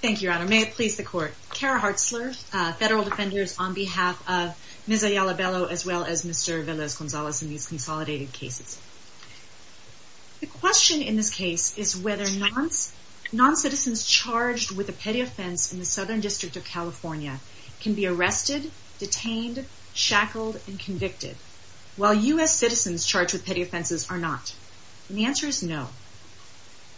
Thank you, Your Honor. May it please the Court. Kara Hartzler, Federal Defenders, on behalf of Ms. Ayala-Bello as well as Mr. Vélez-González in these consolidated cases. The question in this case is whether noncitizens charged with a petty offense in the Southern District of California can be arrested, detained, shackled, and convicted, while U.S. citizens charged with petty offenses are not. And the answer is no.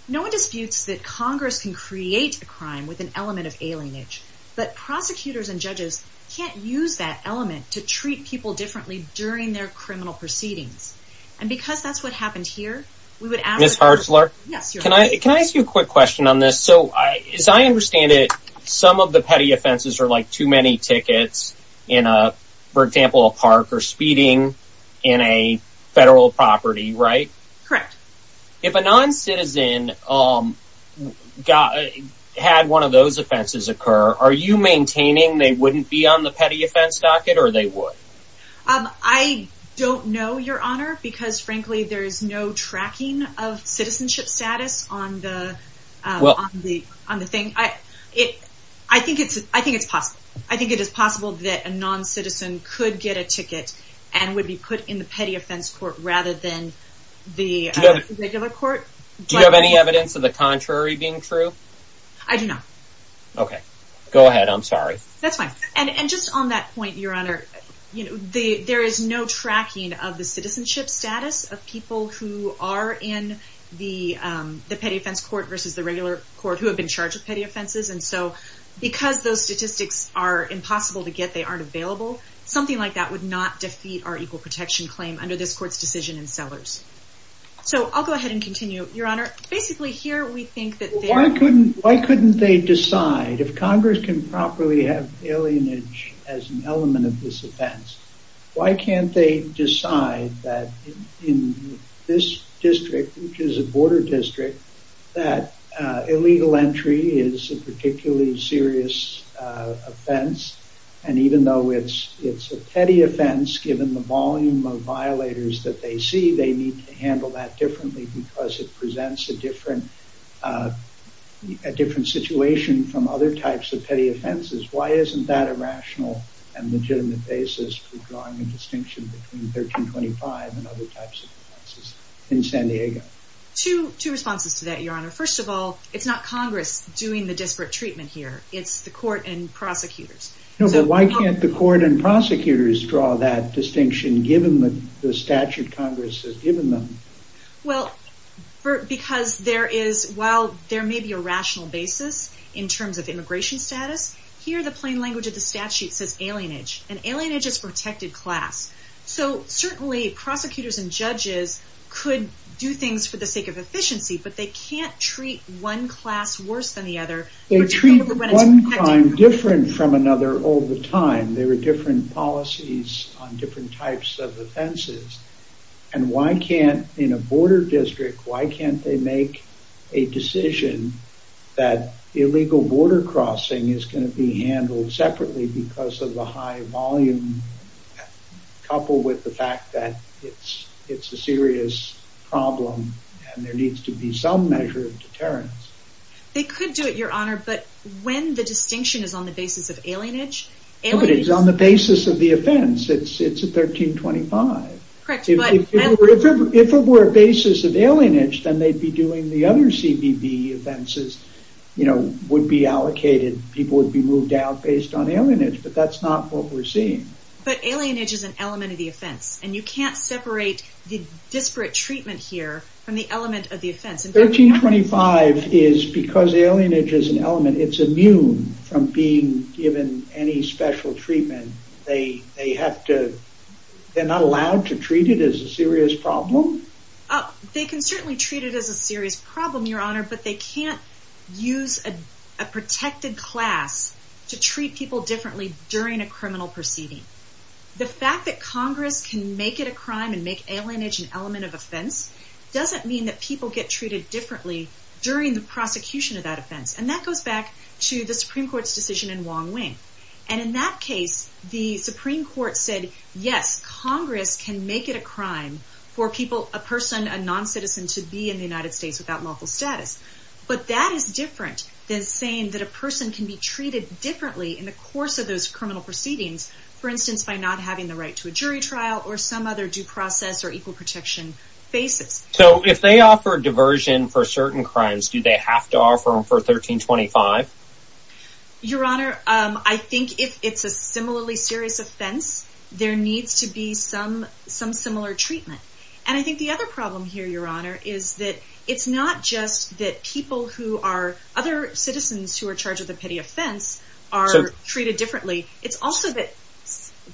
No one disputes that Congress can create a crime with an element of alienage, but prosecutors and judges can't use that element to treat people differently during their criminal proceedings. And because that's what happened here, we would ask... Ms. Hartzler? Yes, Your Honor. Can I ask you a quick question on this? So, as I understand it, some of the petty offenses are like too many tickets in a, for example, a park or speeding in a federal property, right? Correct. If a noncitizen had one of those offenses occur, are you maintaining they wouldn't be on the petty offense docket or they would? I don't know, Your Honor, because frankly there is no tracking of citizenship status on the thing. I think it's possible. I think it is possible that a noncitizen could get a ticket and would be put in the petty offense court rather than the... Regular court? Do you have any evidence of the contrary being true? I do not. Okay. Go ahead. I'm sorry. That's fine. And just on that point, Your Honor, there is no tracking of the citizenship status of people who are in the petty offense court versus the regular court who have been charged with petty offenses. And so, because those statistics are impossible to get, they aren't available, something like that would not defeat our equal protection claim under this court's decision in Sellers. So, I'll go ahead and continue. Your Honor, basically here we think that there... Why couldn't they decide, if Congress can properly have alienage as an element of this offense, why can't they decide that in this district, which is a border district, that illegal entry is a particularly serious offense and even though it's a petty offense, given the volume of violators that they see, they need to handle that differently because it presents a different situation from other types of petty offenses. Why isn't that a rational and legitimate basis for drawing a distinction between 1325 and other types of offenses in San Diego? Two responses to that, Your Honor. First of all, it's not Congress doing the disparate treatment here. It's the court and prosecutors. No, but why can't the court and prosecutors draw that distinction, given the statute Congress has given them? Well, because there is, while there may be a rational basis in terms of immigration status, here the plain language of the statute says alienage, and alienage is protected class. So, certainly prosecutors and judges could do things for the sake of efficiency, but they can't treat one class worse than the other. They treat one crime different from another all the time. There are different policies on different types of offenses, and why can't, in a border district, why can't they make a decision that illegal border crossing is going to be handled separately because of the high volume, coupled with the fact that it's a serious problem and there needs to be some measure of deterrence. They could do it, Your Honor, but when the distinction is on the basis of alienage, alienage... No, but it's on the basis of the offense. It's 1325. Correct, but... If it were a basis of alienage, then they'd be doing the other CBB offenses, you know, would be allocated. People would be moved out based on alienage, but that's not what we're seeing. But alienage is an element of the offense, and you can't separate the disparate treatment here from the element of the offense. 1325 is because alienage is an element. It's immune from being given any special treatment. They have to... They're not allowed to treat it as a serious problem? They can certainly treat it as a serious problem, Your Honor, but they can't use a protected class to treat people differently during a criminal proceeding. The fact that Congress can make it a crime and make alienage an element of offense doesn't mean that people get treated differently during the prosecution of that offense. And that goes back to the Supreme Court's decision in Wong Wing. And in that case, the Supreme Court said, yes, Congress can make it a crime for people, a person, a non-citizen, to be in the United States without lawful status. But that is different than saying that a person can be treated differently in the course of those criminal proceedings. For instance, by not having the right to a jury trial or some other due process or equal protection basis. So if they offer diversion for certain crimes, do they have to offer them for 1325? Your Honor, I think if it's a similarly serious offense, there needs to be some similar treatment. And I think the other problem here, Your Honor, is that it's not just that people who are other citizens who are charged with a petty offense are treated differently. It's also that...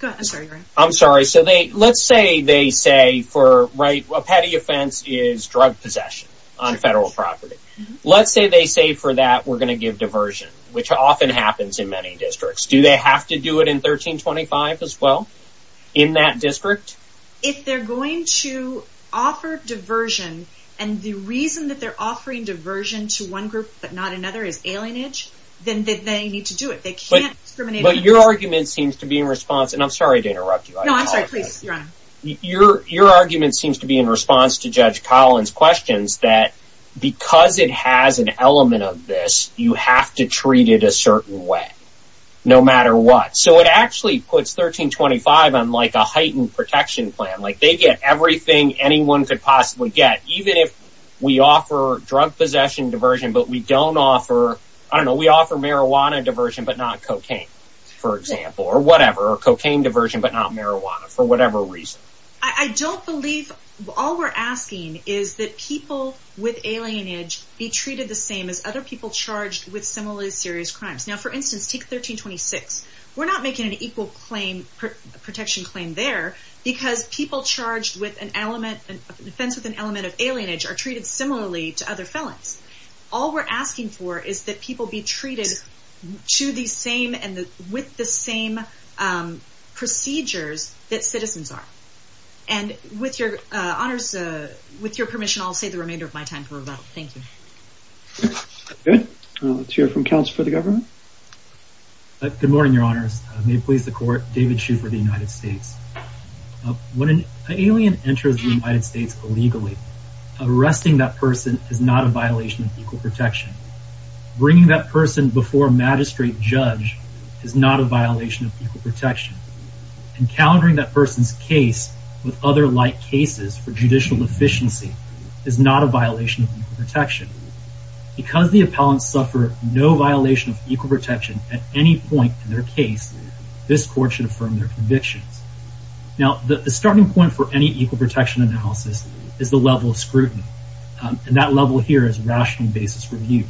I'm sorry, Your Honor. I'm sorry. So let's say they say a petty offense is drug possession on federal property. Let's say they say for that we're going to give diversion, which often happens in many districts. Do they have to do it in 1325 as well, in that district? If they're going to offer diversion, and the reason that they're offering diversion to one group but not another is alienage, then they need to do it. But your argument seems to be in response, and I'm sorry to interrupt you. No, I'm sorry. Please, Your Honor. Your argument seems to be in response to Judge Collins' questions that because it has an element of this, you have to treat it a certain way, no matter what. So it actually puts 1325 on like a heightened protection plan. Like they get everything anyone could possibly get. Even if we offer drug possession diversion, but we don't offer, I don't know, we offer marijuana diversion but not cocaine, for example. Or whatever. Or cocaine diversion but not marijuana, for whatever reason. I don't believe all we're asking is that people with alienage be treated the same as other people charged with similarly serious crimes. Now, for instance, take 1326. We're not making an equal protection claim there because people charged with an element of alienage are treated similarly to other felons. All we're asking for is that people be treated to the same and with the same procedures that citizens are. And with your permission, I'll save the remainder of my time for rebuttal. Thank you. Good. Let's hear from counsel for the government. Good morning, your honors. May it please the court. David Schufer, the United States. When an alien enters the United States illegally, arresting that person is not a violation of equal protection. Bringing that person before a magistrate judge is not a violation of equal protection. Encountering that person's case with other like cases for judicial deficiency is not a violation of equal protection. Because the appellants suffer no violation of equal protection at any point in their case, this court should affirm their convictions. Now, the starting point for any equal protection analysis is the level of scrutiny. And that level here is rational basis review.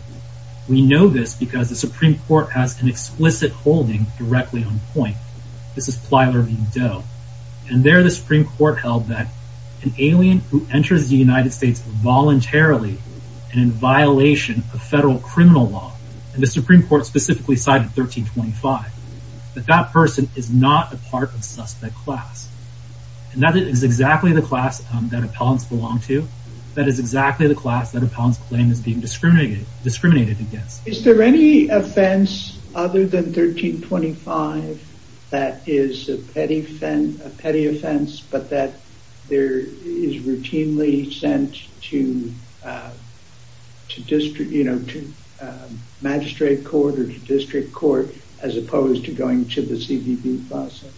We know this because the Supreme Court has an explicit holding directly on point. This is Plyler v. Doe. And there the Supreme Court held that an alien who enters the United States voluntarily and in violation of federal criminal law, and the Supreme Court specifically cited 1325, that that person is not a part of suspect class. And that is exactly the class that appellants belong to. That is exactly the class that appellants claim is being discriminated against. Is there any offense other than 1325 that is a petty offense, but that there is routinely sent to magistrate court or to district court as opposed to going to the CBB process?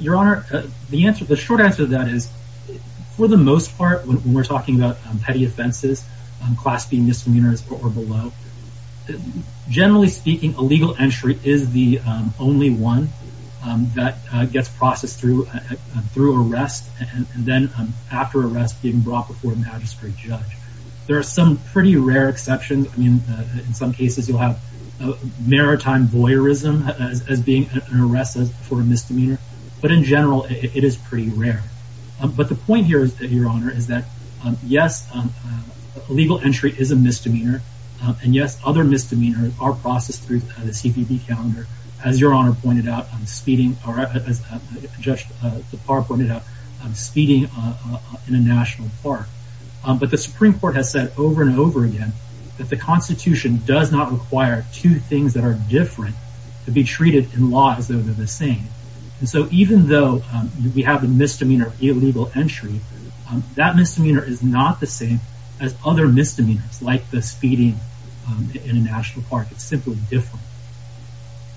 Your Honor, the short answer to that is, for the most part, when we're talking about petty offenses, class B misdemeanors or below, generally speaking, a legal entry is the only one that gets processed through arrest, and then after arrest being brought before a magistrate judge. There are some pretty rare exceptions. In some cases, you'll have maritime voyeurism as being an arrest for a misdemeanor. But in general, it is pretty rare. But the point here, Your Honor, is that yes, legal entry is a misdemeanor. And yes, other misdemeanors are processed through the CBB calendar, as Your Honor pointed out, speeding, or as Judge DePauw pointed out, speeding in a national park. But the Supreme Court has said over and over again that the Constitution does not require two things that are different to be treated in law as though they're the same. And so even though we have the misdemeanor of illegal entry, that misdemeanor is not the same as other misdemeanors like the speeding in a national park. It's simply different.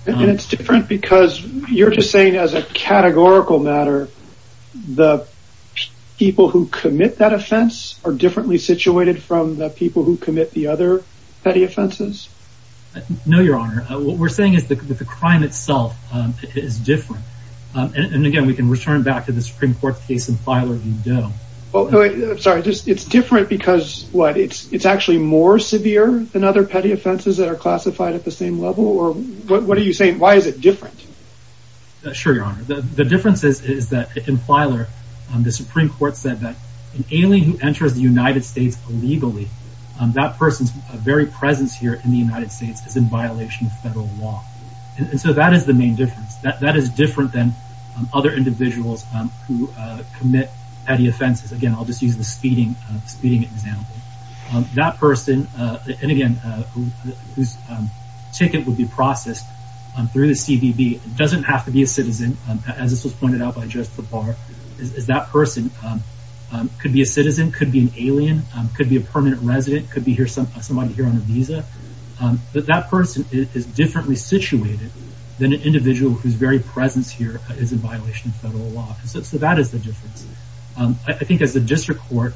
And it's different because you're just saying as a categorical matter, the people who commit that offense are differently situated from the people who commit the other petty offenses? No, Your Honor. What we're saying is that the crime itself is different. And again, we can return back to the Supreme Court case in Filer v. Doe. I'm sorry. It's different because, what, it's actually more severe than other petty offenses that are classified at the same level? Or what are you saying? Why is it different? Sure, Your Honor. The difference is that in Filer, the Supreme Court said that an alien who enters the United States illegally, that person's very presence here in the United States is in violation of federal law. And so that is the main difference. That is different than other individuals who commit petty offenses. Again, I'll just use the speeding example. That person, and again, whose ticket would be processed through the CBB doesn't have to be a citizen, as this was pointed out by Judge Tabar, is that person could be a citizen, could be an alien, could be a permanent resident, could be somebody here on a visa. That person is differently situated than an individual whose very presence here is in violation of federal law. So that is the difference. I think as the District Court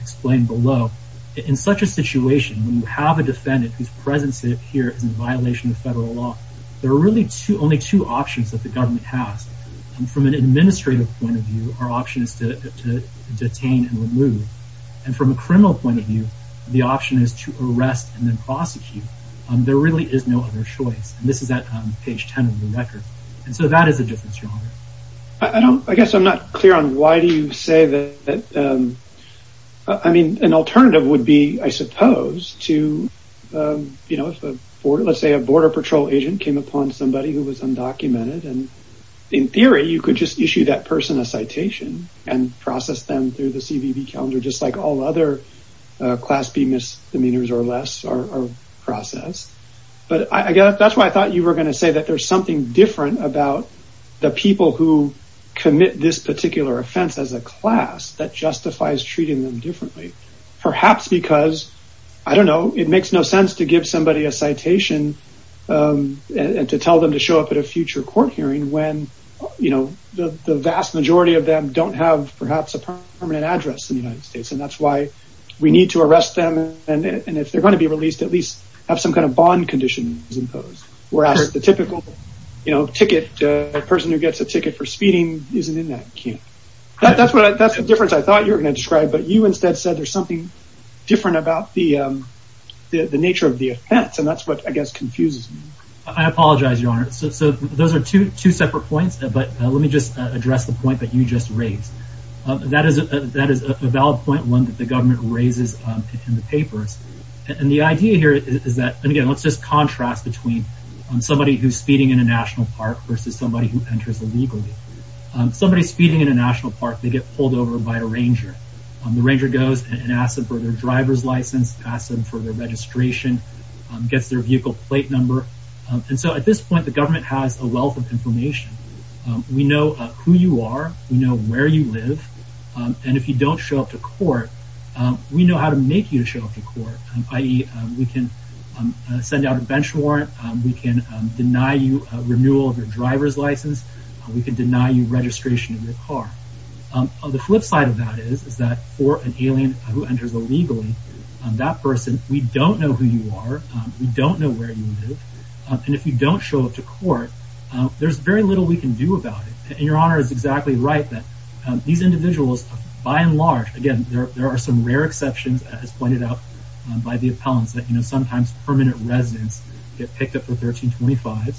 explained below, in such a situation, when you have a defendant whose presence here is in violation of federal law, there are really only two options that the government has. From an administrative point of view, our option is to detain and remove. And from a criminal point of view, the option is to arrest and then prosecute. There really is no other choice. And this is at page 10 of the record. And so that is a difference. I guess I'm not clear on why do you say that. I mean, an alternative would be, I suppose, to, you know, let's say a Border Patrol agent came upon somebody who was undocumented. In theory, you could just issue that person a citation and process them through the CBB calendar, just like all other class B misdemeanors or less are processed. But I guess that's why I thought you were going to say that there's something different about the people who commit this particular offense as a class that justifies treating them differently. Perhaps because, I don't know, it makes no sense to give somebody a citation and to tell them to show up at a future court hearing when, you know, the vast majority of them don't have perhaps a permanent address in the United States. And that's why we need to arrest them. And if they're going to be released, at least have some kind of bond conditions imposed. Whereas the typical, you know, ticket, the person who gets a ticket for speeding isn't in that camp. That's the difference I thought you were going to describe. But you instead said there's something different about the nature of the offense. And that's what, I guess, confuses me. I apologize, Your Honor. So those are two separate points. But let me just address the point that you just raised. That is a valid point, one that the government raises in the papers. And the idea here is that, again, let's just contrast between somebody who's speeding in a national park versus somebody who enters illegally. Somebody's speeding in a national park, they get pulled over by a ranger. The ranger goes and asks them for their driver's license, asks them for their registration, gets their vehicle plate number. And so at this point, the government has a wealth of information. We know who you are. We know where you live. And if you don't show up to court, we know how to make you show up to court. I.e., we can send out a bench warrant. We can deny you a renewal of your driver's license. We can deny you registration of your car. The flip side of that is that for an alien who enters illegally, that person, we don't know who you are. We don't know where you live. And if you don't show up to court, there's very little we can do about it. And Your Honor is exactly right that these individuals, by and large, again, there are some rare exceptions, as pointed out by the appellants, that sometimes permanent residents get picked up for $13.25.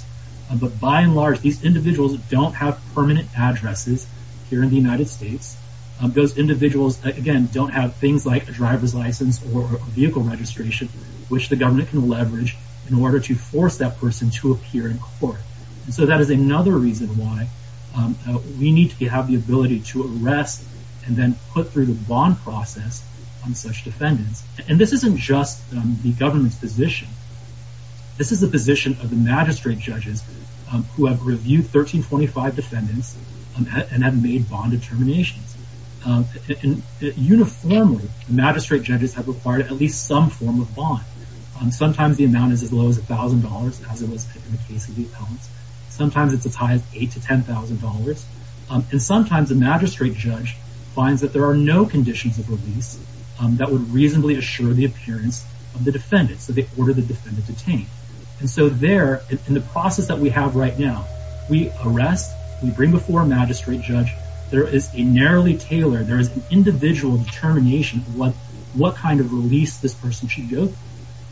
But by and large, these individuals don't have permanent addresses here in the United States. Those individuals, again, don't have things like a driver's license or a vehicle registration, which the government can leverage in order to force that person to appear in court. And so that is another reason why we need to have the ability to arrest and then put through the bond process on such defendants. And this isn't just the government's position. This is the position of the magistrate judges who have reviewed 13.25 defendants and have made bond determinations. Uniformly, magistrate judges have required at least some form of bond. Sometimes the amount is as low as $1,000, as it was in the case of the appellants. Sometimes it's as high as $8,000 to $10,000. And sometimes a magistrate judge finds that there are no conditions of release that would reasonably assure the appearance of the defendants. So they order the defendant detained. And so there, in the process that we have right now, we arrest, we bring before a magistrate judge. There is a narrowly tailored, there is an individual determination of what kind of release this person should go through.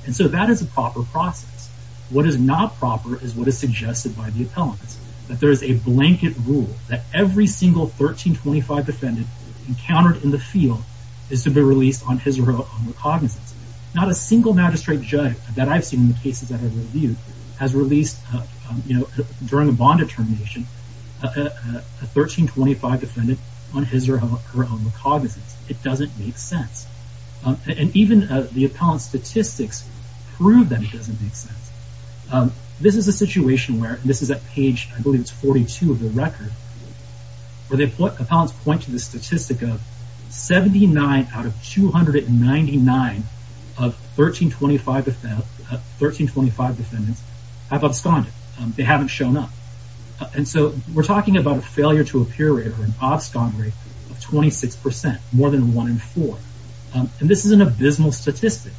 And so that is a proper process. What is not proper is what is suggested by the appellants, that there is a blanket rule that every single 13.25 defendant encountered in the field is to be released on his or her own recognizance. Not a single magistrate judge that I've seen in the cases that I've reviewed has released, during a bond determination, a 13.25 defendant on his or her own recognizance. It doesn't make sense. And even the appellant's statistics prove that it doesn't make sense. This is a situation where, this is at page, I believe it's 42 of the record, where the appellants point to the statistic of 79 out of 299 of 13.25 defendants have absconded. They haven't shown up. And so we're talking about a failure to appear rate or an abscond rate of 26%, more than one in four. And this is an abysmal statistic.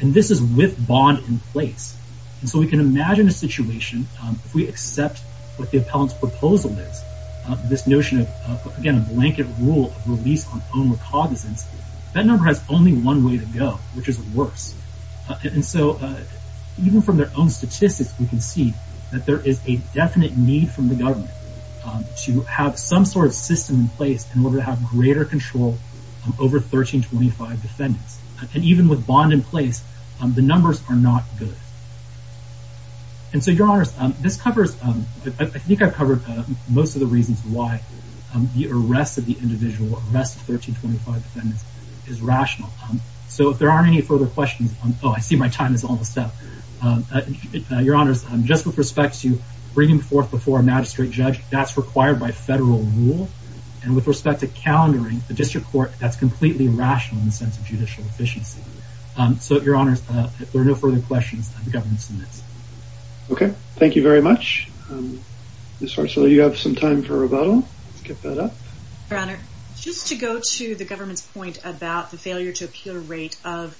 And this is with bond in place. And so we can imagine a situation, if we accept what the appellant's proposal is, this notion of, again, a blanket rule of release on own recognizance, that number has only one way to go, which is worse. And so, even from their own statistics, we can see that there is a definite need from the government to have some sort of system in place in order to have greater control over 13.25 defendants. And even with bond in place, the numbers are not good. And so, Your Honors, this covers, I think I've covered most of the reasons why the arrest of the individual, arrest of 13.25 defendants, is rational. So if there aren't any further questions, oh, I see my time is almost up. Your Honors, just with respect to bringing forth before a magistrate judge, that's required by federal rule. And with respect to countering the district court, that's completely irrational in the sense of judicial efficiency. So, Your Honors, if there are no further questions, the government submits. Okay. Thank you very much. Ms. Hartswell, you have some time for rebuttal. Let's get that up. Your Honor, just to go to the government's point about the failure to appear rate of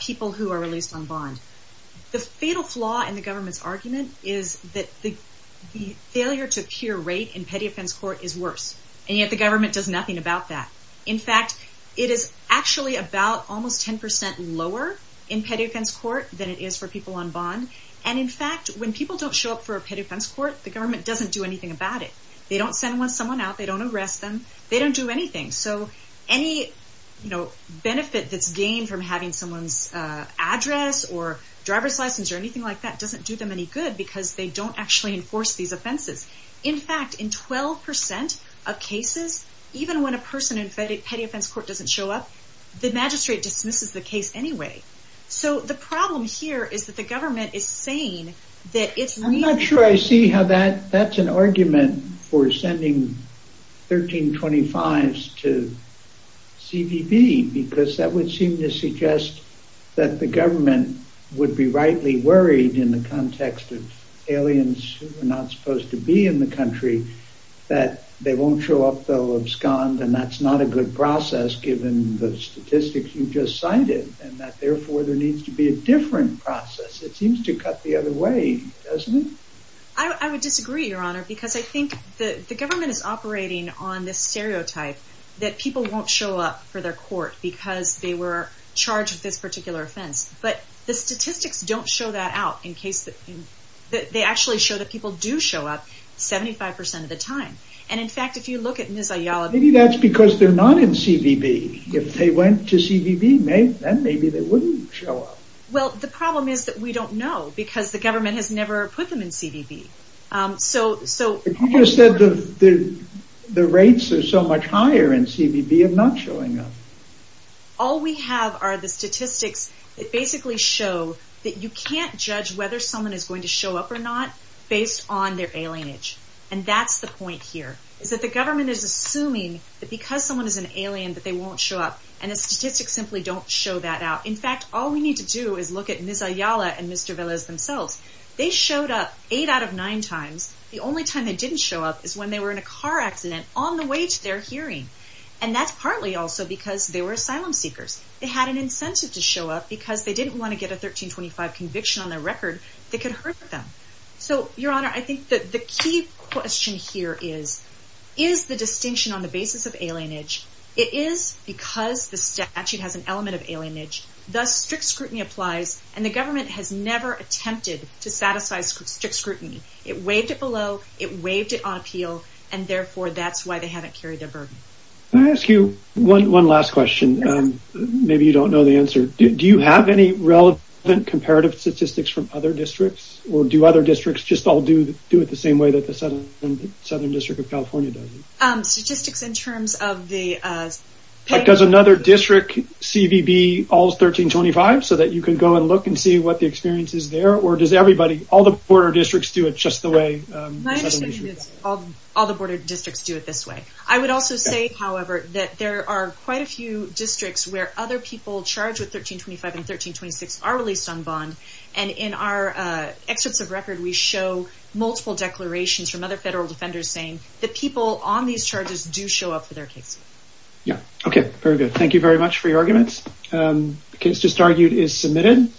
people who are released on bond. The fatal flaw in the government's argument is that the failure to appear rate in petty offense court is worse. And yet the government does nothing about that. In fact, it is actually about almost 10% lower in petty offense court than it is for people on bond. And in fact, when people don't show up for a petty offense court, the government doesn't do anything about it. They don't send someone out. They don't arrest them. They don't do anything. So, any benefit that's gained from having someone's address or driver's license or anything like that doesn't do them any good because they don't actually enforce these offenses. In fact, in 12% of cases, even when a person in petty offense court doesn't show up, the magistrate dismisses the case anyway. So, the problem here is that the government is saying that it's... I'm not sure I see how that's an argument for sending 1325s to CBB because that would seem to suggest that the government would be rightly worried in the context of aliens who are not supposed to be in the country that they won't show up, they'll abscond, and that's not a good process given the statistics you just cited and that therefore there needs to be a different process. It seems to cut the other way, doesn't it? I would disagree, Your Honor, because I think the government is operating on this stereotype that people won't show up for their court because they were charged with this particular offense. But the statistics don't show that out in case... They actually show that people do show up 75% of the time. And in fact, if you look at Ms. Ayala... Maybe that's because they're not in CBB. If they went to CBB, then maybe they wouldn't show up. Well, the problem is that we don't know because the government has never put them in CBB. So... You just said the rates are so much higher in CBB of not showing up. All we have are the statistics that basically show that you can't judge whether someone is going to show up or not based on their alienage. And that's the point here, is that the government is assuming that because someone is an alien that they won't show up. And the statistics simply don't show that out. In fact, all we need to do is look at Ms. Ayala and Mr. Velez themselves. They showed up 8 out of 9 times. The only time they didn't show up is when they were in a car accident on the way to their hearing. And that's partly also because they were asylum seekers. They had an incentive to show up because they didn't want to get a 1325 conviction on their record that could hurt them. So, Your Honor, I think that the key question here is... Is the distinction on the basis of alienage... Thus, strict scrutiny applies, and the government has never attempted to satisfy strict scrutiny. It waived it below, it waived it on appeal, and therefore that's why they haven't carried their burden. Can I ask you one last question? Maybe you don't know the answer. Do you have any relevant comparative statistics from other districts? Or do other districts just all do it the same way that the Southern District of California does it? Statistics in terms of the... Does another district CVB all 1325 so that you can go and look and see what the experience is there? Or does everybody, all the border districts do it just the way... My understanding is all the border districts do it this way. I would also say, however, that there are quite a few districts where other people charged with 1325 and 1326 are released on bond. And in our excerpts of record, we show multiple declarations from other federal defenders saying that people on these charges do show up for their case. Okay, very good. Thank you very much for your arguments. The case just argued is submitted.